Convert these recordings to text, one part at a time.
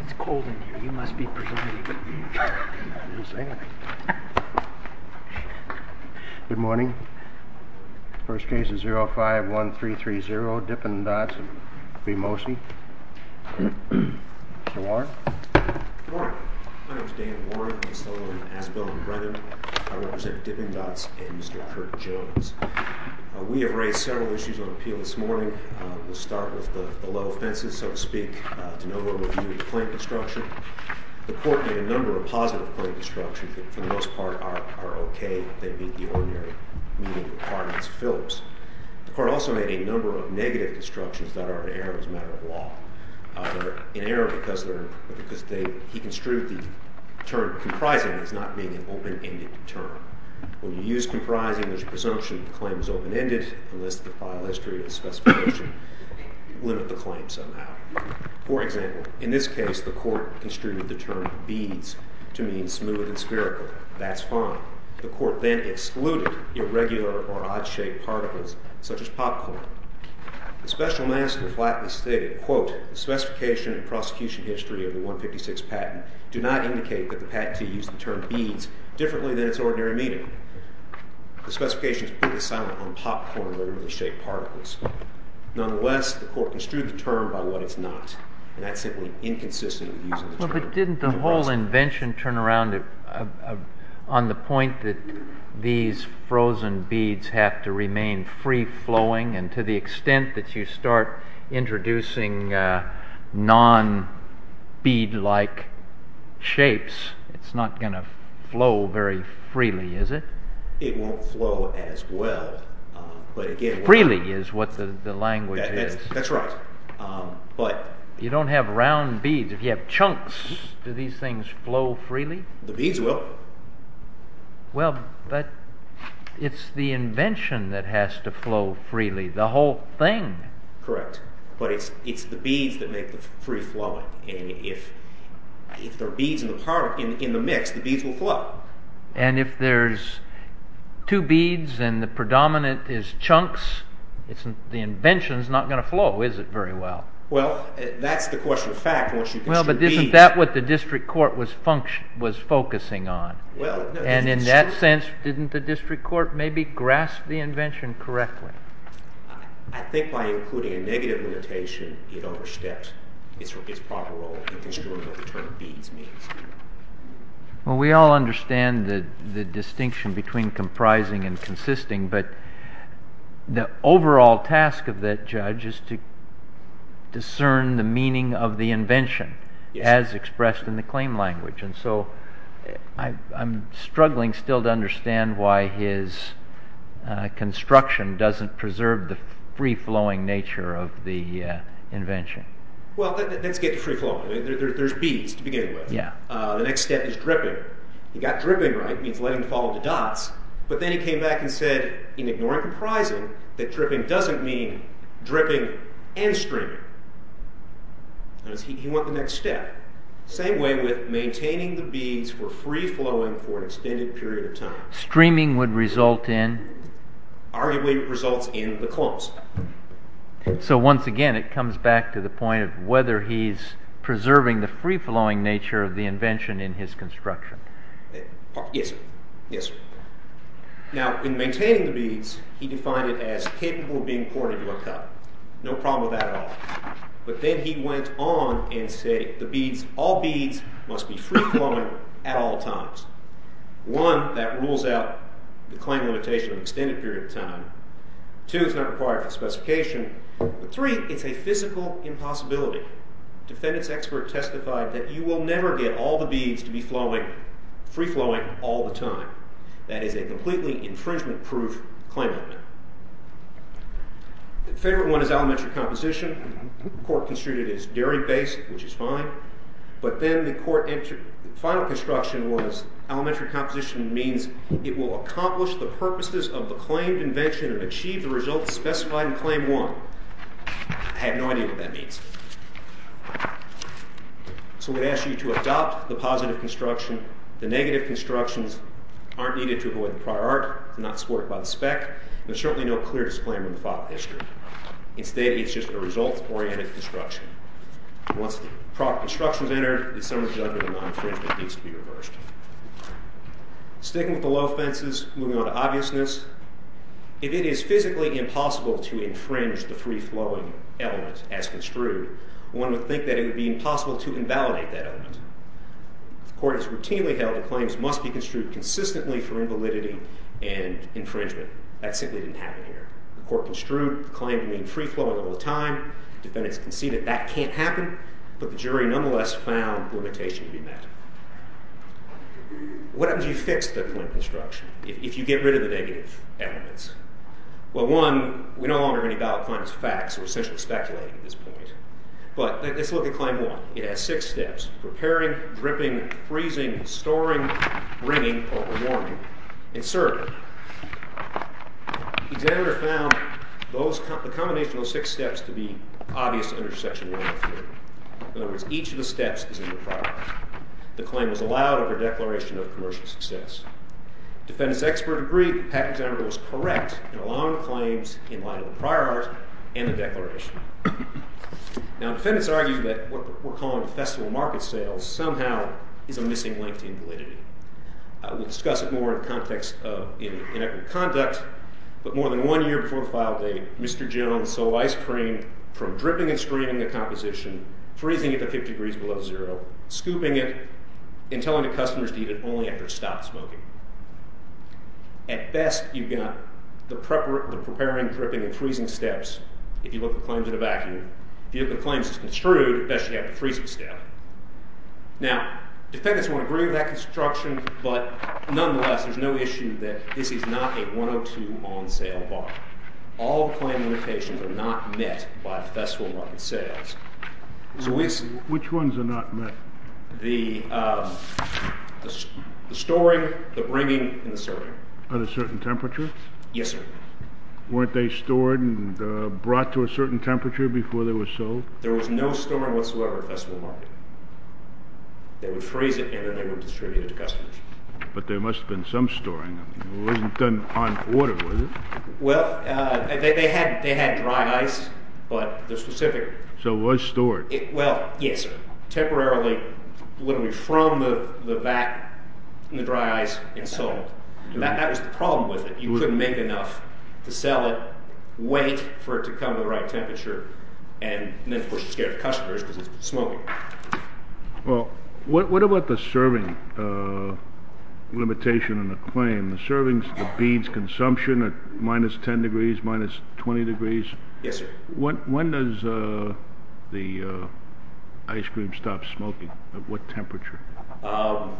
It's cold in here, you must be pregnant. I didn't say anything. Good morning. First case is 051330, Dippin' Dots v. Mosey. Mr. Warren. Good morning. My name is Dan Warren. I'm the son of Asbel and Brethren. I represent Dippin' Dots and Mr. Kirk Jones. We have raised several issues on appeal this morning. We'll start with the low offenses, so to speak, to no overview of the plaintiff's structure. The court made a number of positive claim constructions that, for the most part, are okay. They meet the ordinary meeting requirements of Phillips. The court also made a number of negative constructions that are in error as a matter of law. They're in error because he construed the term comprising as not being an open-ended term. When you use comprising, there's a presumption that the claim is open-ended, unless the file history and specification limit the claim somehow. For example, in this case, the court construed the term beads to mean smooth and spherical. That's fine. The court then excluded irregular or odd-shaped particles such as popcorn. The special master flatly stated, quote, The specification and prosecution history of the 156 patent do not indicate that the patentee used the term beads differently than its ordinary meaning. The specification is purely silent on popcorn or irregularly shaped particles. Nonetheless, the court construed the term by what it's not, and that's simply inconsistently using the term. But didn't the whole invention turn around on the point that these frozen beads have to remain free-flowing, and to the extent that you start introducing non-bead-like shapes, it's not going to flow very freely, is it? It won't flow as well. Freely is what the language is. That's right. You don't have round beads. If you have chunks, do these things flow freely? The beads will. Well, but it's the invention that has to flow freely, the whole thing. Correct. But it's the beads that make the free-flowing. If there are beads in the mix, the beads will flow. And if there's two beads and the predominant is chunks, the invention is not going to flow, is it, very well? Well, that's the question of fact. Well, but isn't that what the district court was focusing on? And in that sense, didn't the district court maybe grasp the invention correctly? I think by including a negative notation, it oversteps its proper role in describing what the term beads means. Well, we all understand the distinction between comprising and consisting, but the overall task of that judge is to discern the meaning of the invention as expressed in the claim language. And so I'm struggling still to understand why his construction doesn't preserve the free-flowing nature of the invention. Well, let's get to free-flowing. There's beads to begin with. The next step is dripping. He got dripping right. It means letting them fall into dots. But then he came back and said, in ignoring comprising, that dripping doesn't mean dripping and streaming. He went the next step. Same way with maintaining the beads for free-flowing for an extended period of time. Streaming would result in? Arguably, it results in the clumps. So once again, it comes back to the point of whether he's preserving the free-flowing nature of the invention in his construction. Yes, sir. Yes, sir. Now, in maintaining the beads, he defined it as capable of being poured into a cup. No problem with that at all. But then he went on and said all beads must be free-flowing at all times. One, that rules out the claim limitation of an extended period of time. Two, it's not required for specification. Three, it's a physical impossibility. Defendant's expert testified that you will never get all the beads to be free-flowing all the time. That is a completely infringement-proof claim amendment. The third one is elementary composition. The court construed it as dairy-based, which is fine. But then the court entered the final construction was elementary composition means it will accomplish the purposes of the claimed invention and achieve the results specified in Claim 1. I have no idea what that means. So we ask you to adopt the positive construction. The negative constructions aren't needed to avoid the prior art, not supported by the spec. There's certainly no clear disclaimer in the file history. Instead, it's just a result-oriented construction. Once the proper construction is entered, the summary judgment on infringement needs to be reversed. Sticking with the low offenses, moving on to obviousness. If it is physically impossible to infringe the free-flowing element as construed, one would think that it would be impossible to invalidate that element. The court has routinely held that claims must be construed consistently for invalidity and infringement. That simply didn't happen here. The court construed the claim to mean free-flowing all the time. Defendants conceded that can't happen. But the jury nonetheless found the limitation to be met. What happens if you fix the claim construction, if you get rid of the negative elements? Well, one, we no longer have any valid claims as facts. We're essentially speculating at this point. But let's look at Claim 1. It has six steps. Preparing, dripping, freezing, storing, bringing, or rewarding. And certainly, the examiner found the combination of those six steps to be obvious under Section 103. In other words, each of the steps is in the prior art. The claim was allowed over a declaration of commercial success. Defendants expert agree that the patent examiner was correct in allowing the claims in line with the prior art and the declaration. Now, defendants argue that what we're calling festival market sales somehow is a missing link to invalidity. We'll discuss it more in context of inequity of conduct. But more than one year before the file date, Mr. Jones sold ice cream from dripping and streaming the composition, freezing it to 50 degrees below zero, scooping it, and telling the customers to eat it only after it stopped smoking. At best, you've got the preparing, dripping, and freezing steps if you look at claims in a vacuum. If you look at claims that's construed, at best you have the freezing step. Now, defendants won't agree with that construction, but nonetheless, there's no issue that this is not a 102 on sale bar. All claim limitations are not met by festival market sales. Which ones are not met? The storing, the bringing, and the serving. At a certain temperature? Yes, sir. Weren't they stored and brought to a certain temperature before they were sold? There was no storing whatsoever at festival market. They would freeze it, and then they would distribute it to customers. But there must have been some storing. It wasn't done on order, was it? Well, they had dry ice, but the specific... So it was stored? Well, yes, temporarily, literally from the vat, the dry ice, and sold. That was the problem with it. You couldn't make enough to sell it, wait for it to come to the right temperature, and then, of course, you're scared of customers because it's smoking. Well, what about the serving limitation and the claim? The servings, the beans' consumption at minus 10 degrees, minus 20 degrees? Yes, sir. When does the ice cream stop smoking? At what temperature? At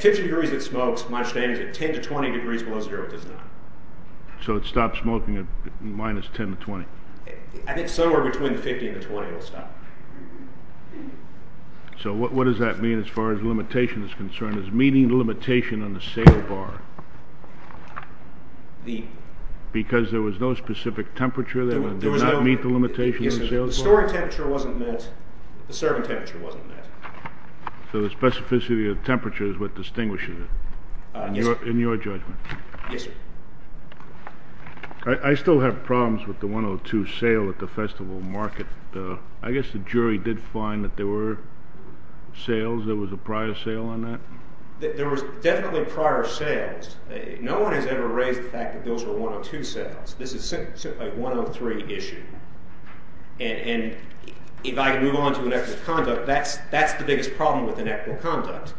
50 degrees it smokes, my understanding is at 10 to 20 degrees below zero it does not. So it stops smoking at minus 10 to 20? I think somewhere between 50 and 20 it will stop. So what does that mean as far as limitation is concerned? Is meeting the limitation on the sale bar because there was no specific temperature that did not meet the limitation on the sale bar? The storing temperature wasn't met, the serving temperature wasn't met. So the specificity of the temperature is what distinguishes it, in your judgment? Yes, sir. I still have problems with the 102 sale at the festival market. I guess the jury did find that there were sales, there was a prior sale on that? There was definitely prior sales. No one has ever raised the fact that those were 102 sales. This is simply a 103 issue. And if I can move on to an act of conduct, that's the biggest problem with an act of conduct.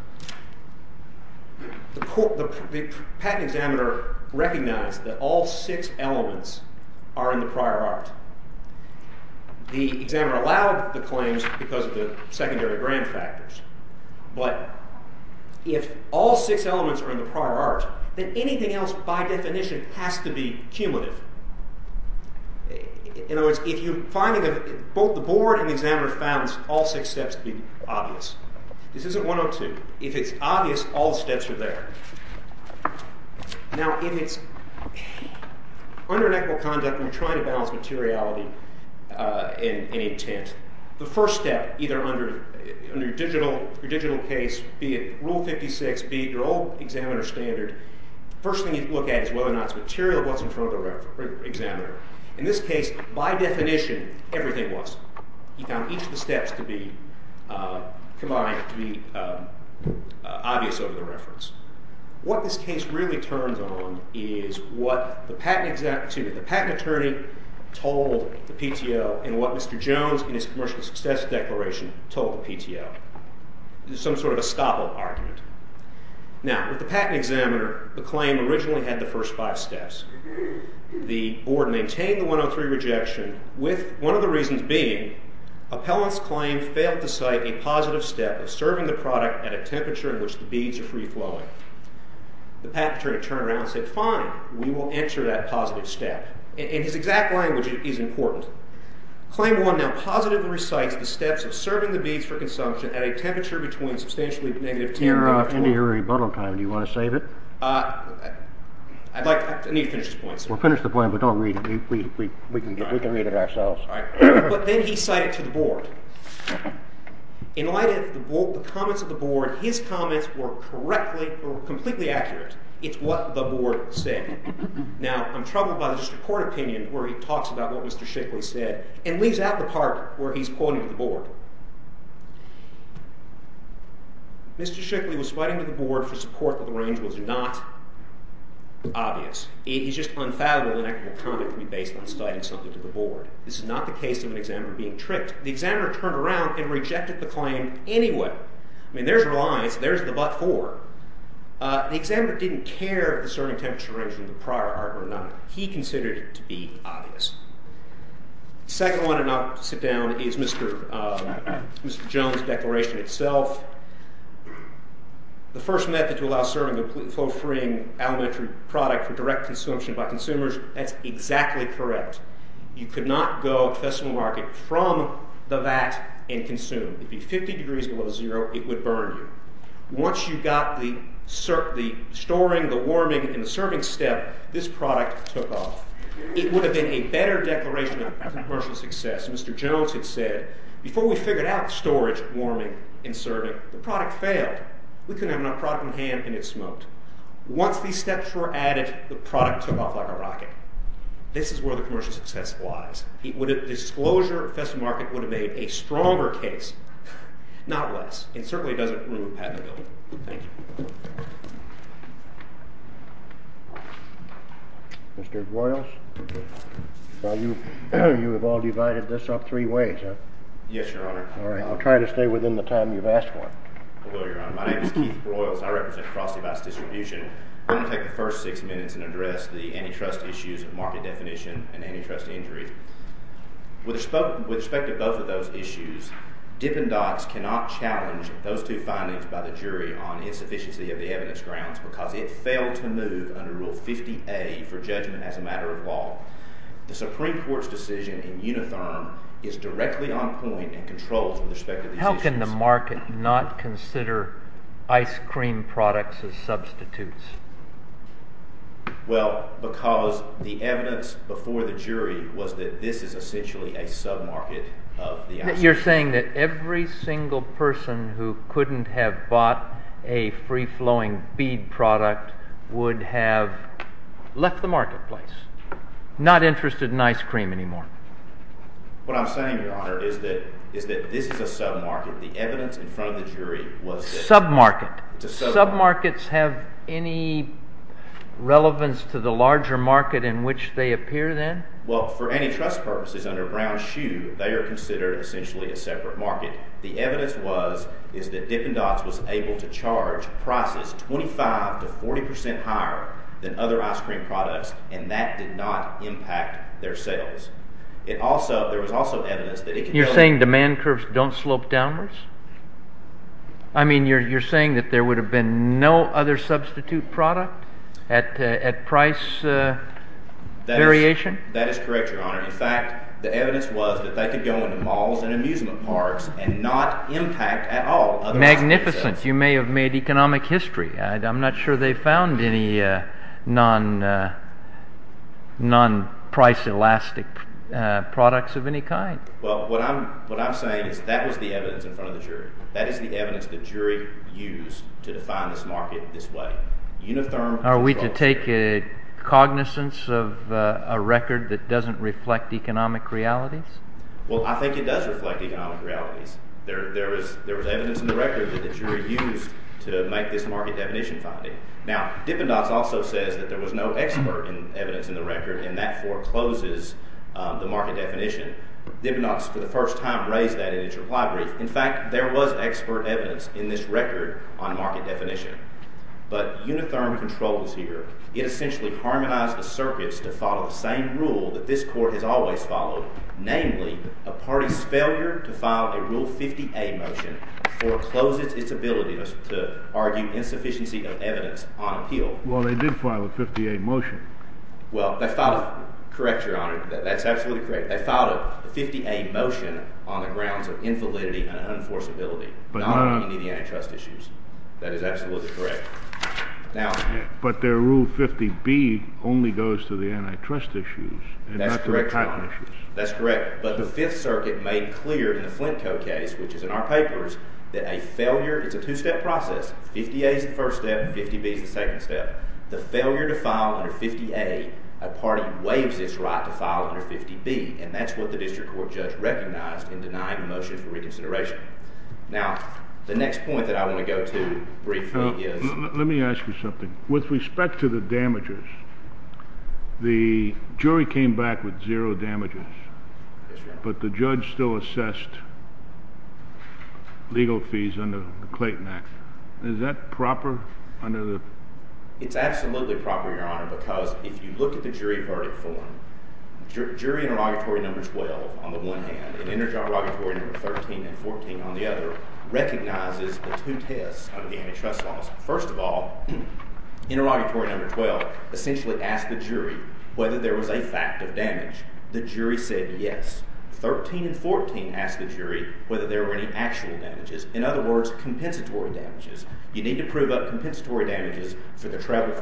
The patent examiner recognized that all six elements are in the prior art. The examiner allowed the claims because of the secondary grant factors. But if all six elements are in the prior art, then anything else by definition has to be cumulative. In other words, both the board and the examiner found all six steps to be obvious. This isn't 102. If it's obvious, all steps are there. Now, in its—under an act of conduct, when you're trying to balance materiality and intent, the first step, either under your digital case, be it Rule 56, be it your old examiner standard, the first thing you look at is whether or not the material was in front of the examiner. In this case, by definition, everything was. He found each of the steps to be obvious over the reference. What this case really turns on is what the patent attorney told the PTO and what Mr. Jones, in his commercial success declaration, told the PTO. There's some sort of a stop-all argument. Now, with the patent examiner, the claim originally had the first five steps. The board maintained the 103 rejection with one of the reasons being appellant's claim failed to cite a positive step of serving the product at a temperature in which the beads are free-flowing. The patent attorney turned around and said, fine, we will enter that positive step. And his exact language is important. Claim 1 now positively recites the steps of serving the beads for consumption at a temperature between substantially negative 10 and 12. Do you want to save it? I need to finish this point. Well, finish the point, but don't read it. We can read it ourselves. But then he cited to the board. In light of the comments of the board, his comments were completely accurate. It's what the board said. Now, I'm troubled by the Supreme Court opinion where he talks about what Mr. Shickley said and leaves out the part where he's quoting the board. Mr. Shickley was citing to the board for support that the range was not obvious. It is just unfathomable that an equitable comment can be based on citing something to the board. This is not the case of an examiner being tricked. The examiner turned around and rejected the claim anyway. I mean, there's relies. There's the but-for. The examiner didn't care if the serving temperature range was a prior art or not. He considered it to be obvious. The second one, and I'll sit down, is Mr. Jones' declaration itself. The first method to allow serving a flow-freeing elementary product for direct consumption by consumers, that's exactly correct. You could not go to the festival market from the vat and consume. If it would be 50 degrees below zero, it would burn you. Once you got the storing, the warming, and the serving step, this product took off. It would have been a better declaration of commercial success. Mr. Jones had said, before we figured out storage, warming, and serving, the product failed. We couldn't have enough product on hand, and it smoked. Once these steps were added, the product took off like a rocket. This is where the commercial success lies. The disclosure at the festival market would have made a stronger case, not less. It certainly doesn't ruin patentability. Thank you. Mr. Broyles, you have all divided this up three ways, huh? Yes, Your Honor. All right. I'll try to stay within the time you've asked for. Hello, Your Honor. My name is Keith Broyles. I represent Cross-Device Distribution. I'm going to take the first six minutes and address the antitrust issues of market definition and antitrust injury. With respect to both of those issues, Dippin' Dots cannot challenge those two findings by the jury on insufficiency of the evidence grounds because it failed to move under Rule 50A for judgment as a matter of law. The Supreme Court's decision in Unitherm is directly on point and controls with respect to these issues. How can the market not consider ice cream products as substitutes? Well, because the evidence before the jury was that this is essentially a sub-market of the ice cream. You're saying that every single person who couldn't have bought a free-flowing bead product would have left the marketplace, not interested in ice cream anymore? What I'm saying, Your Honor, is that this is a sub-market. The evidence in front of the jury was that— Sub-market. It's a sub-market. Sub-markets have any relevance to the larger market in which they appear then? Well, for antitrust purposes, under Brown's Shoe, they are considered essentially a separate market. The evidence was that Dippin' Dots was able to charge prices 25 to 40 percent higher than other ice cream products, and that did not impact their sales. There was also evidence that it could— You're saying demand curves don't slope downwards? I mean, you're saying that there would have been no other substitute product at price variation? That is correct, Your Honor. In fact, the evidence was that they could go into malls and amusement parks and not impact at all other ice cream sales. Magnificent. You may have made economic history. I'm not sure they found any non-price-elastic products of any kind. Well, what I'm saying is that was the evidence in front of the jury. That is the evidence the jury used to define this market this way. Are we to take cognizance of a record that doesn't reflect economic realities? Well, I think it does reflect economic realities. There was evidence in the record that the jury used to make this market definition finding. Now, Dippin' Dots also says that there was no expert evidence in the record, and that forecloses the market definition. Dippin' Dots, for the first time, raised that in its reply brief. In fact, there was expert evidence in this record on market definition. But Unitherm controls here. It essentially harmonized the circuits to follow the same rule that this Court has always followed, namely, a party's failure to file a Rule 50A motion forecloses its ability to argue insufficiency of evidence on appeal. Well, they did file a 50A motion. Well, they filed a—correct, Your Honor. That's absolutely correct. They filed a 50A motion on the grounds of infallibility and unenforceability, not on any antitrust issues. That is absolutely correct. Now— But their Rule 50B only goes to the antitrust issues— That's correct, Your Honor. —and not to the patent issues. That's correct. But the Fifth Circuit made clear in the Flint Co. case, which is in our papers, that a failure—it's a two-step process. 50A is the first step, and 50B is the second step. The failure to file under 50A, a party waives its right to file under 50B, and that's what the district court judge recognized in denying the motion for reconsideration. Now, the next point that I want to go to briefly is— Let me ask you something. With respect to the damages, the jury came back with zero damages. Yes, Your Honor. But the judge still assessed legal fees under the Clayton Act. Is that proper under the— It's absolutely proper, Your Honor, because if you look at the jury verdict form, jury interrogatory number 12 on the one hand and interrogatory number 13 and 14 on the other recognizes the two tests under the antitrust laws. First of all, interrogatory number 12 essentially asked the jury whether there was a fact of damage. The jury said yes. Thirteen and fourteen asked the jury whether there were any actual damages, in other words, compensatory damages. You need to prove up compensatory damages for the travel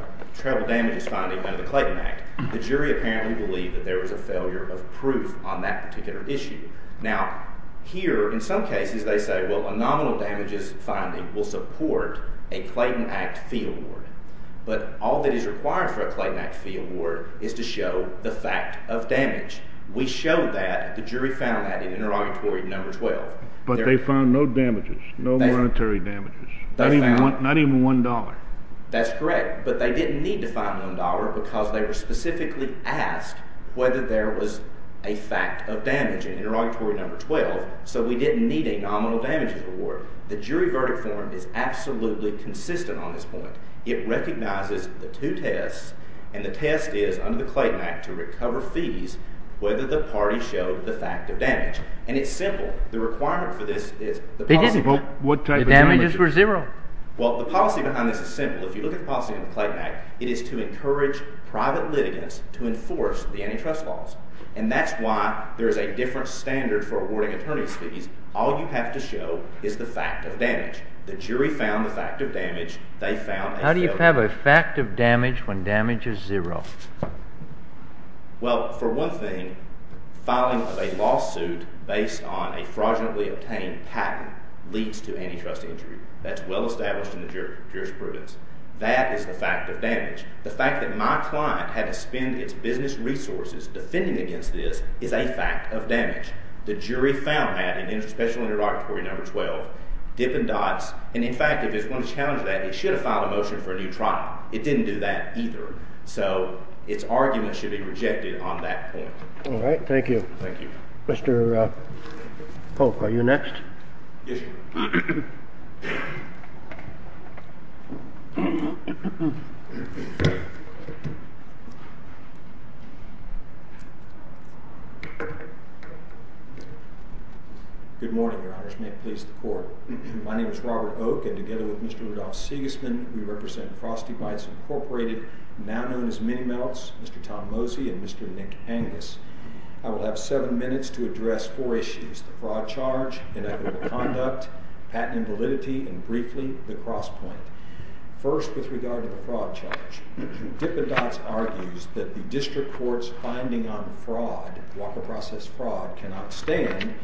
damages finding under the Clayton Act. The jury apparently believed that there was a failure of proof on that particular issue. Now, here in some cases they say, well, a nominal damages finding will support a Clayton Act fee award, but all that is required for a Clayton Act fee award is to show the fact of damage. We showed that. The jury found that in interrogatory number 12. But they found no damages, no monetary damages, not even $1. That's correct. But they didn't need to find $1 because they were specifically asked whether there was a fact of damage in interrogatory number 12, so we didn't need a nominal damages award. The jury verdict form is absolutely consistent on this point. It recognizes the two tests, and the test is under the Clayton Act to recover fees whether the party showed the fact of damage. And it's simple. The requirement for this is – They didn't. The damages were zero. Well, the policy behind this is simple. If you look at the policy in the Clayton Act, it is to encourage private litigants to enforce the antitrust laws. And that's why there is a different standard for awarding attorney's fees. All you have to show is the fact of damage. The jury found the fact of damage. They found a failure of proof. How do you have a fact of damage when damage is zero? Well, for one thing, filing a lawsuit based on a fraudulently obtained patent leads to antitrust injury. That's well established in the jurisprudence. That is the fact of damage. The fact that my client had to spend its business resources defending against this is a fact of damage. The jury found that in special interrogatory number 12. Dippin' dots. And, in fact, if it's going to challenge that, it should have filed a motion for a new trial. It didn't do that either. So its argument should be rejected on that point. All right. Thank you. Thank you. Mr. Pope, are you next? Yes, sir. Thank you. Good morning, Your Honors. May it please the Court. My name is Robert Oak, and together with Mr. Rudolph Sigismund, we represent Frosty Bites Incorporated, now known as Mini-Melts, Mr. Tom Mosey, and Mr. Nick Angus. I will have seven minutes to address four issues. The fraud charge, inequitable conduct, patent invalidity, and, briefly, the cross point. First, with regard to the fraud charge, Dippin' Dots argues that the district court's finding on fraud, walker process fraud, cannot stand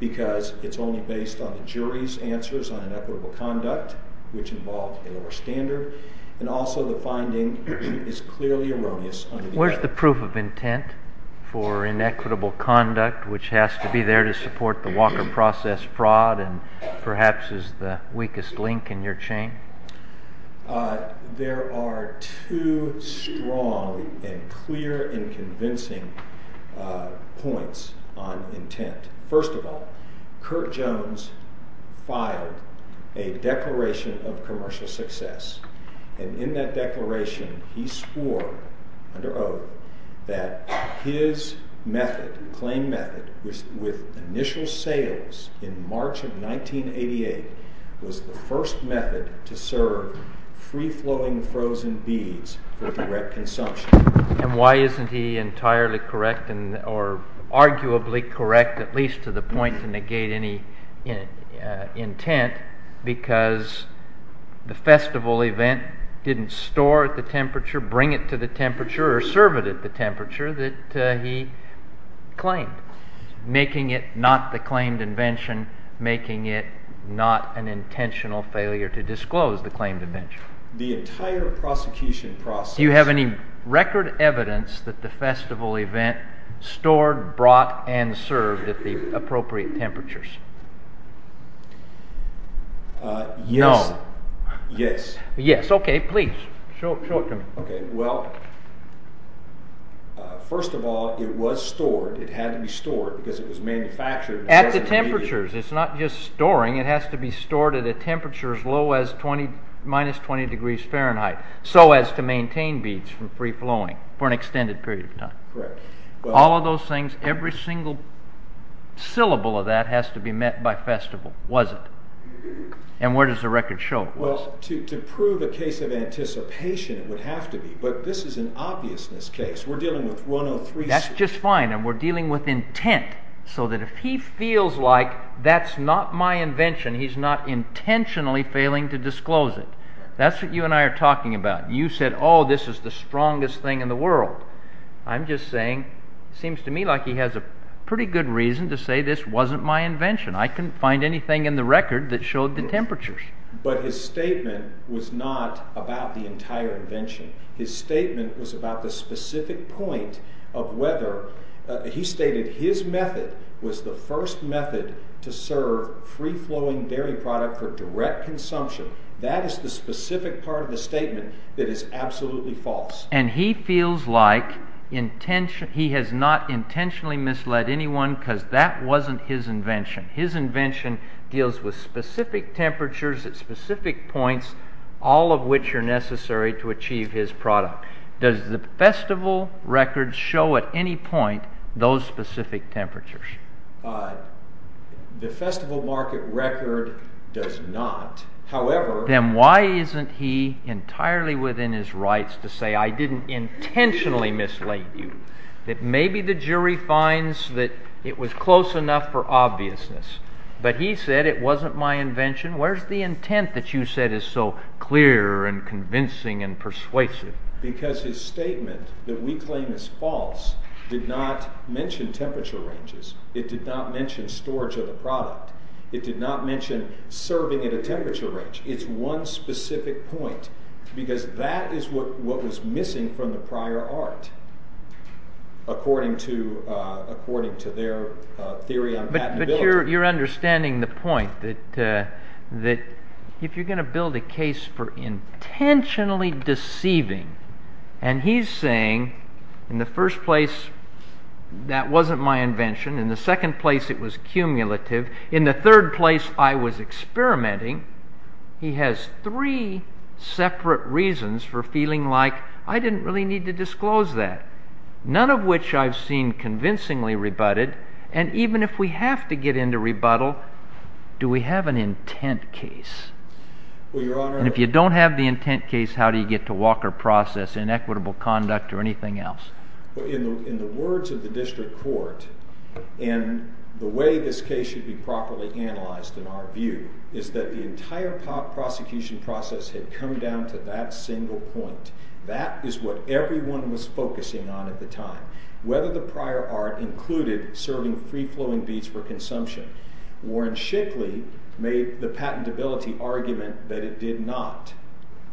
because it's only based on the jury's answers on inequitable conduct, which involved a lower standard, and also the finding is clearly erroneous. Where's the proof of intent for inequitable conduct, which has to be there to support the walker process fraud and perhaps is the weakest link in your chain? There are two strong and clear and convincing points on intent. First of all, Curt Jones filed a declaration of commercial success, and in that declaration, he swore, under Oak, that his method, claim method, with initial sales in March of 1988, was the first method to serve free-flowing frozen beads for direct consumption. And why isn't he entirely correct, or arguably correct, at least to the point to negate any intent, because the festival event didn't store at the temperature, bring it to the temperature, or serve it at the temperature that he claimed, making it not the claimed invention, making it not an intentional failure to disclose the claimed invention. The entire prosecution process... No. Yes. Yes, okay, please, show it to me. Okay, well, first of all, it was stored, it had to be stored, because it was manufactured... At the temperatures, it's not just storing, it has to be stored at a temperature as low as minus 20 degrees Fahrenheit, so as to maintain beads from free-flowing for an extended period of time. Correct. All of those things, every single syllable of that has to be met by festival, was it? And where does the record show it was? Well, to prove a case of anticipation, it would have to be, but this is an obviousness case, we're dealing with 103... That's just fine, and we're dealing with intent, so that if he feels like that's not my invention, he's not intentionally failing to disclose it. That's what you and I are talking about. You said, oh, this is the strongest thing in the world. I'm just saying, it seems to me like he has a pretty good reason to say this wasn't my invention. I couldn't find anything in the record that showed the temperatures. But his statement was not about the entire invention. His statement was about the specific point of whether... He stated his method was the first method to serve free-flowing dairy product for direct consumption. That is the specific part of the statement that is absolutely false. And he feels like he has not intentionally misled anyone because that wasn't his invention. His invention deals with specific temperatures at specific points, all of which are necessary to achieve his product. Does the festival record show at any point those specific temperatures? The festival market record does not, however... Then why isn't he entirely within his rights to say I didn't intentionally mislead you? That maybe the jury finds that it was close enough for obviousness. But he said it wasn't my invention. Where's the intent that you said is so clear and convincing and persuasive? Because his statement that we claim is false did not mention temperature ranges. It did not mention storage of the product. It did not mention serving at a temperature range. It's one specific point because that is what was missing from the prior art according to their theory on patentability. But you're understanding the point that if you're going to build a case for intentionally deceiving and he's saying in the first place that wasn't my invention, in the second place it was cumulative, in the third place I was experimenting, he has three separate reasons for feeling like I didn't really need to disclose that. None of which I've seen convincingly rebutted. And even if we have to get into rebuttal, do we have an intent case? And if you don't have the intent case, how do you get to Walker Process, inequitable conduct, or anything else? In the words of the district court, and the way this case should be properly analyzed in our view, is that the entire prosecution process had come down to that single point. That is what everyone was focusing on at the time. Whether the prior art included serving free-flowing beads for consumption. Warren Shickley made the patentability argument that it did not.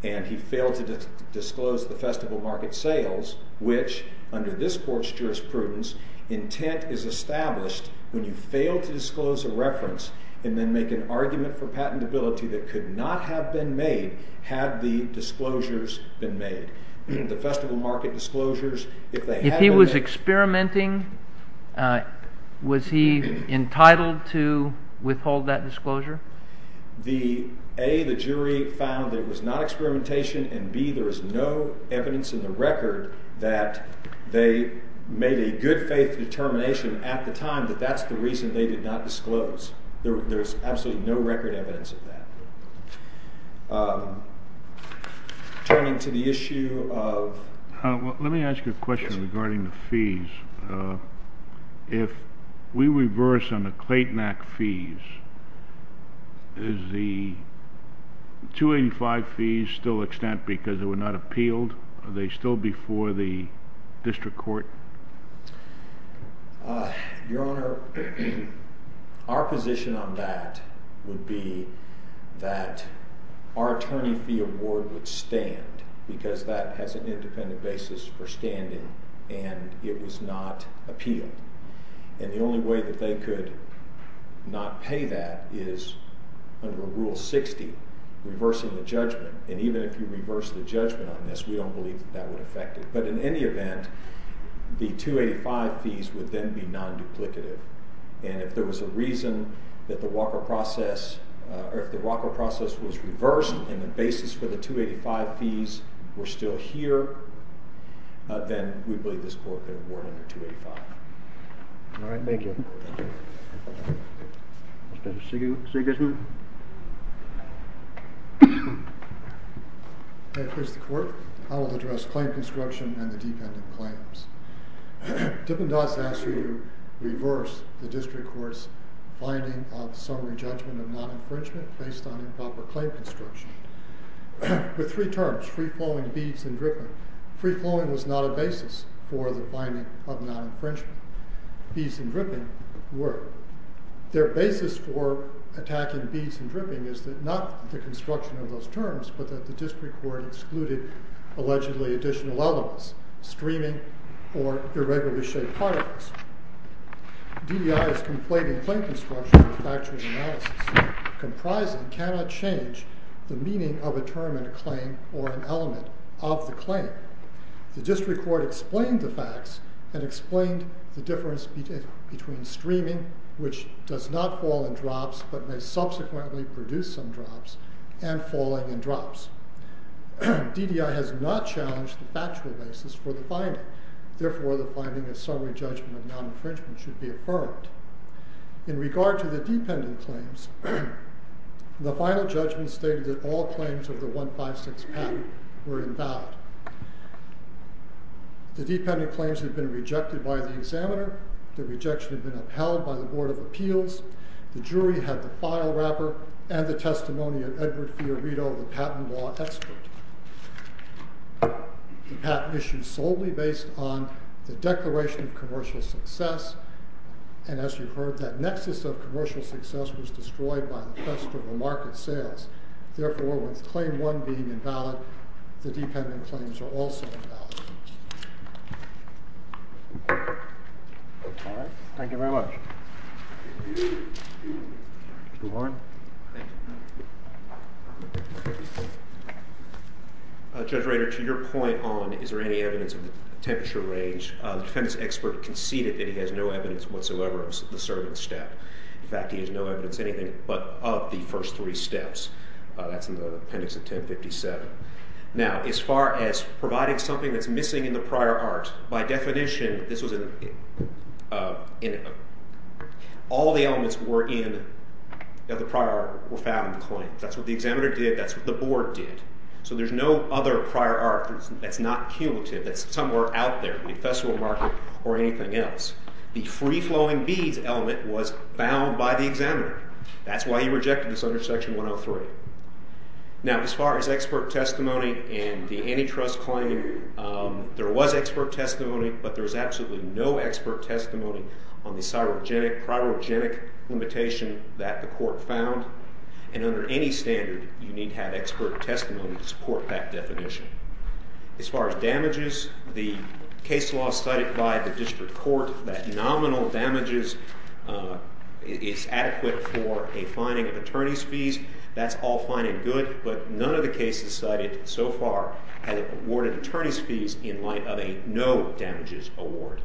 And he failed to disclose the festival market sales, which under this court's jurisprudence, intent is established when you fail to disclose a reference and then make an argument for patentability that could not have been made had the disclosures been made. If he was experimenting, was he entitled to withhold that disclosure? A, the jury found that it was not experimentation. And B, there is no evidence in the record that they made a good faith determination at the time that that's the reason they did not disclose. There's absolutely no record evidence of that. Turning to the issue of... Let me ask you a question regarding the fees. If we reverse on the Clayton Act fees, is the 285 fees still extant because they were not appealed? Are they still before the district court? Your Honor, our position on that would be that our attorney fee award would stand because that has an independent basis for standing and it was not appealed. And the only way that they could not pay that is under Rule 60, reversing the judgment. And even if you reverse the judgment on this, we don't believe that that would affect it. But in any event, the 285 fees would then be non-duplicative. And if there was a reason that the Walker process, or if the Walker process was reversed and the basis for the 285 fees were still here, then we believe this court could have warned under 285. All right. Thank you. Thank you. Mr. Sigurdsson? If it's the court, I will address claim conscription and the defendant claims. Dippin-Dotts asked me to reverse the district court's finding of summary judgment of non-infringement based on improper claim construction with three terms, free-flowing, beads, and dripping. Free-flowing was not a basis for the finding of non-infringement. Beads and dripping were. Their basis for attacking beads and dripping is that not the construction of those terms, but that the district court excluded allegedly additional elements, streaming or irregularly shaped particles. DEI is complaining claim construction with factually analysis. Comprising cannot change the meaning of a term in a claim or an element of the claim. The district court explained the facts and explained the difference between streaming, which does not fall in drops, but may subsequently produce some drops, and falling in drops. DDI has not challenged the factual basis for the finding. Therefore, the finding of summary judgment of non-infringement should be affirmed. In regard to the dependent claims, the final judgment stated that all claims of the 156 patent were invalid. The dependent claims have been rejected by the examiner. The rejection has been upheld by the Board of Appeals. The jury had the file wrapper and the testimony of Edward Fiorito, the patent law expert. The patent issued solely based on the Declaration of Commercial Success. And as you heard, that nexus of commercial success was destroyed by the quest of market sales. Therefore, with claim one being invalid, the dependent claims are also invalid. All right. Thank you very much. Mr. Warren. Thank you. Judge Rader, to your point on is there any evidence of the temperature range, the defendant's expert conceded that he has no evidence whatsoever of the servant's step. In fact, he has no evidence anything but of the first three steps. That's in the appendix of 1057. Now, as far as providing something that's missing in the prior art, by definition, all the elements that were in the prior art were found in the claim. That's what the examiner did. That's what the board did. So there's no other prior art that's not cumulative, that's somewhere out there in the festival market or anything else. The free-flowing beads element was found by the examiner. That's why he rejected this under Section 103. Now, as far as expert testimony and the antitrust claim, there was expert testimony, but there was absolutely no expert testimony on the cyrogenic, cryogenic limitation that the court found. And under any standard, you need to have expert testimony to support that definition. As far as damages, the case law cited by the district court that nominal damages is adequate for a fining of attorney's fees, that's all fine and good, but none of the cases cited so far have awarded attorney's fees in light of a no damages award.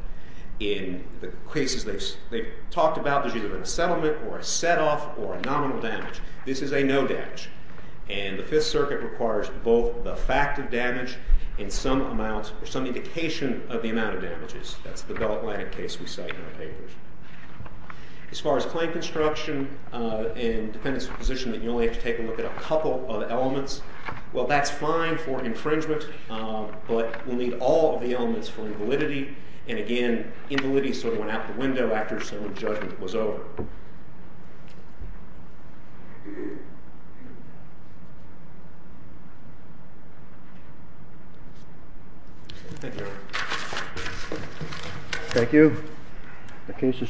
In the cases they've talked about, there's either a settlement or a set-off or a nominal damage. This is a no damage. And the Fifth Circuit requires both the fact of damage and some amount or some indication of the amount of damages. That's the Bell Atlantic case we cite in our papers. As far as claim construction and dependence of position, you only have to take a look at a couple of elements. Well, that's fine for infringement, but we'll need all of the elements for invalidity. And again, invalidity sort of went out the window after settlement judgment was over. Thank you. Thank you. The case is submitted.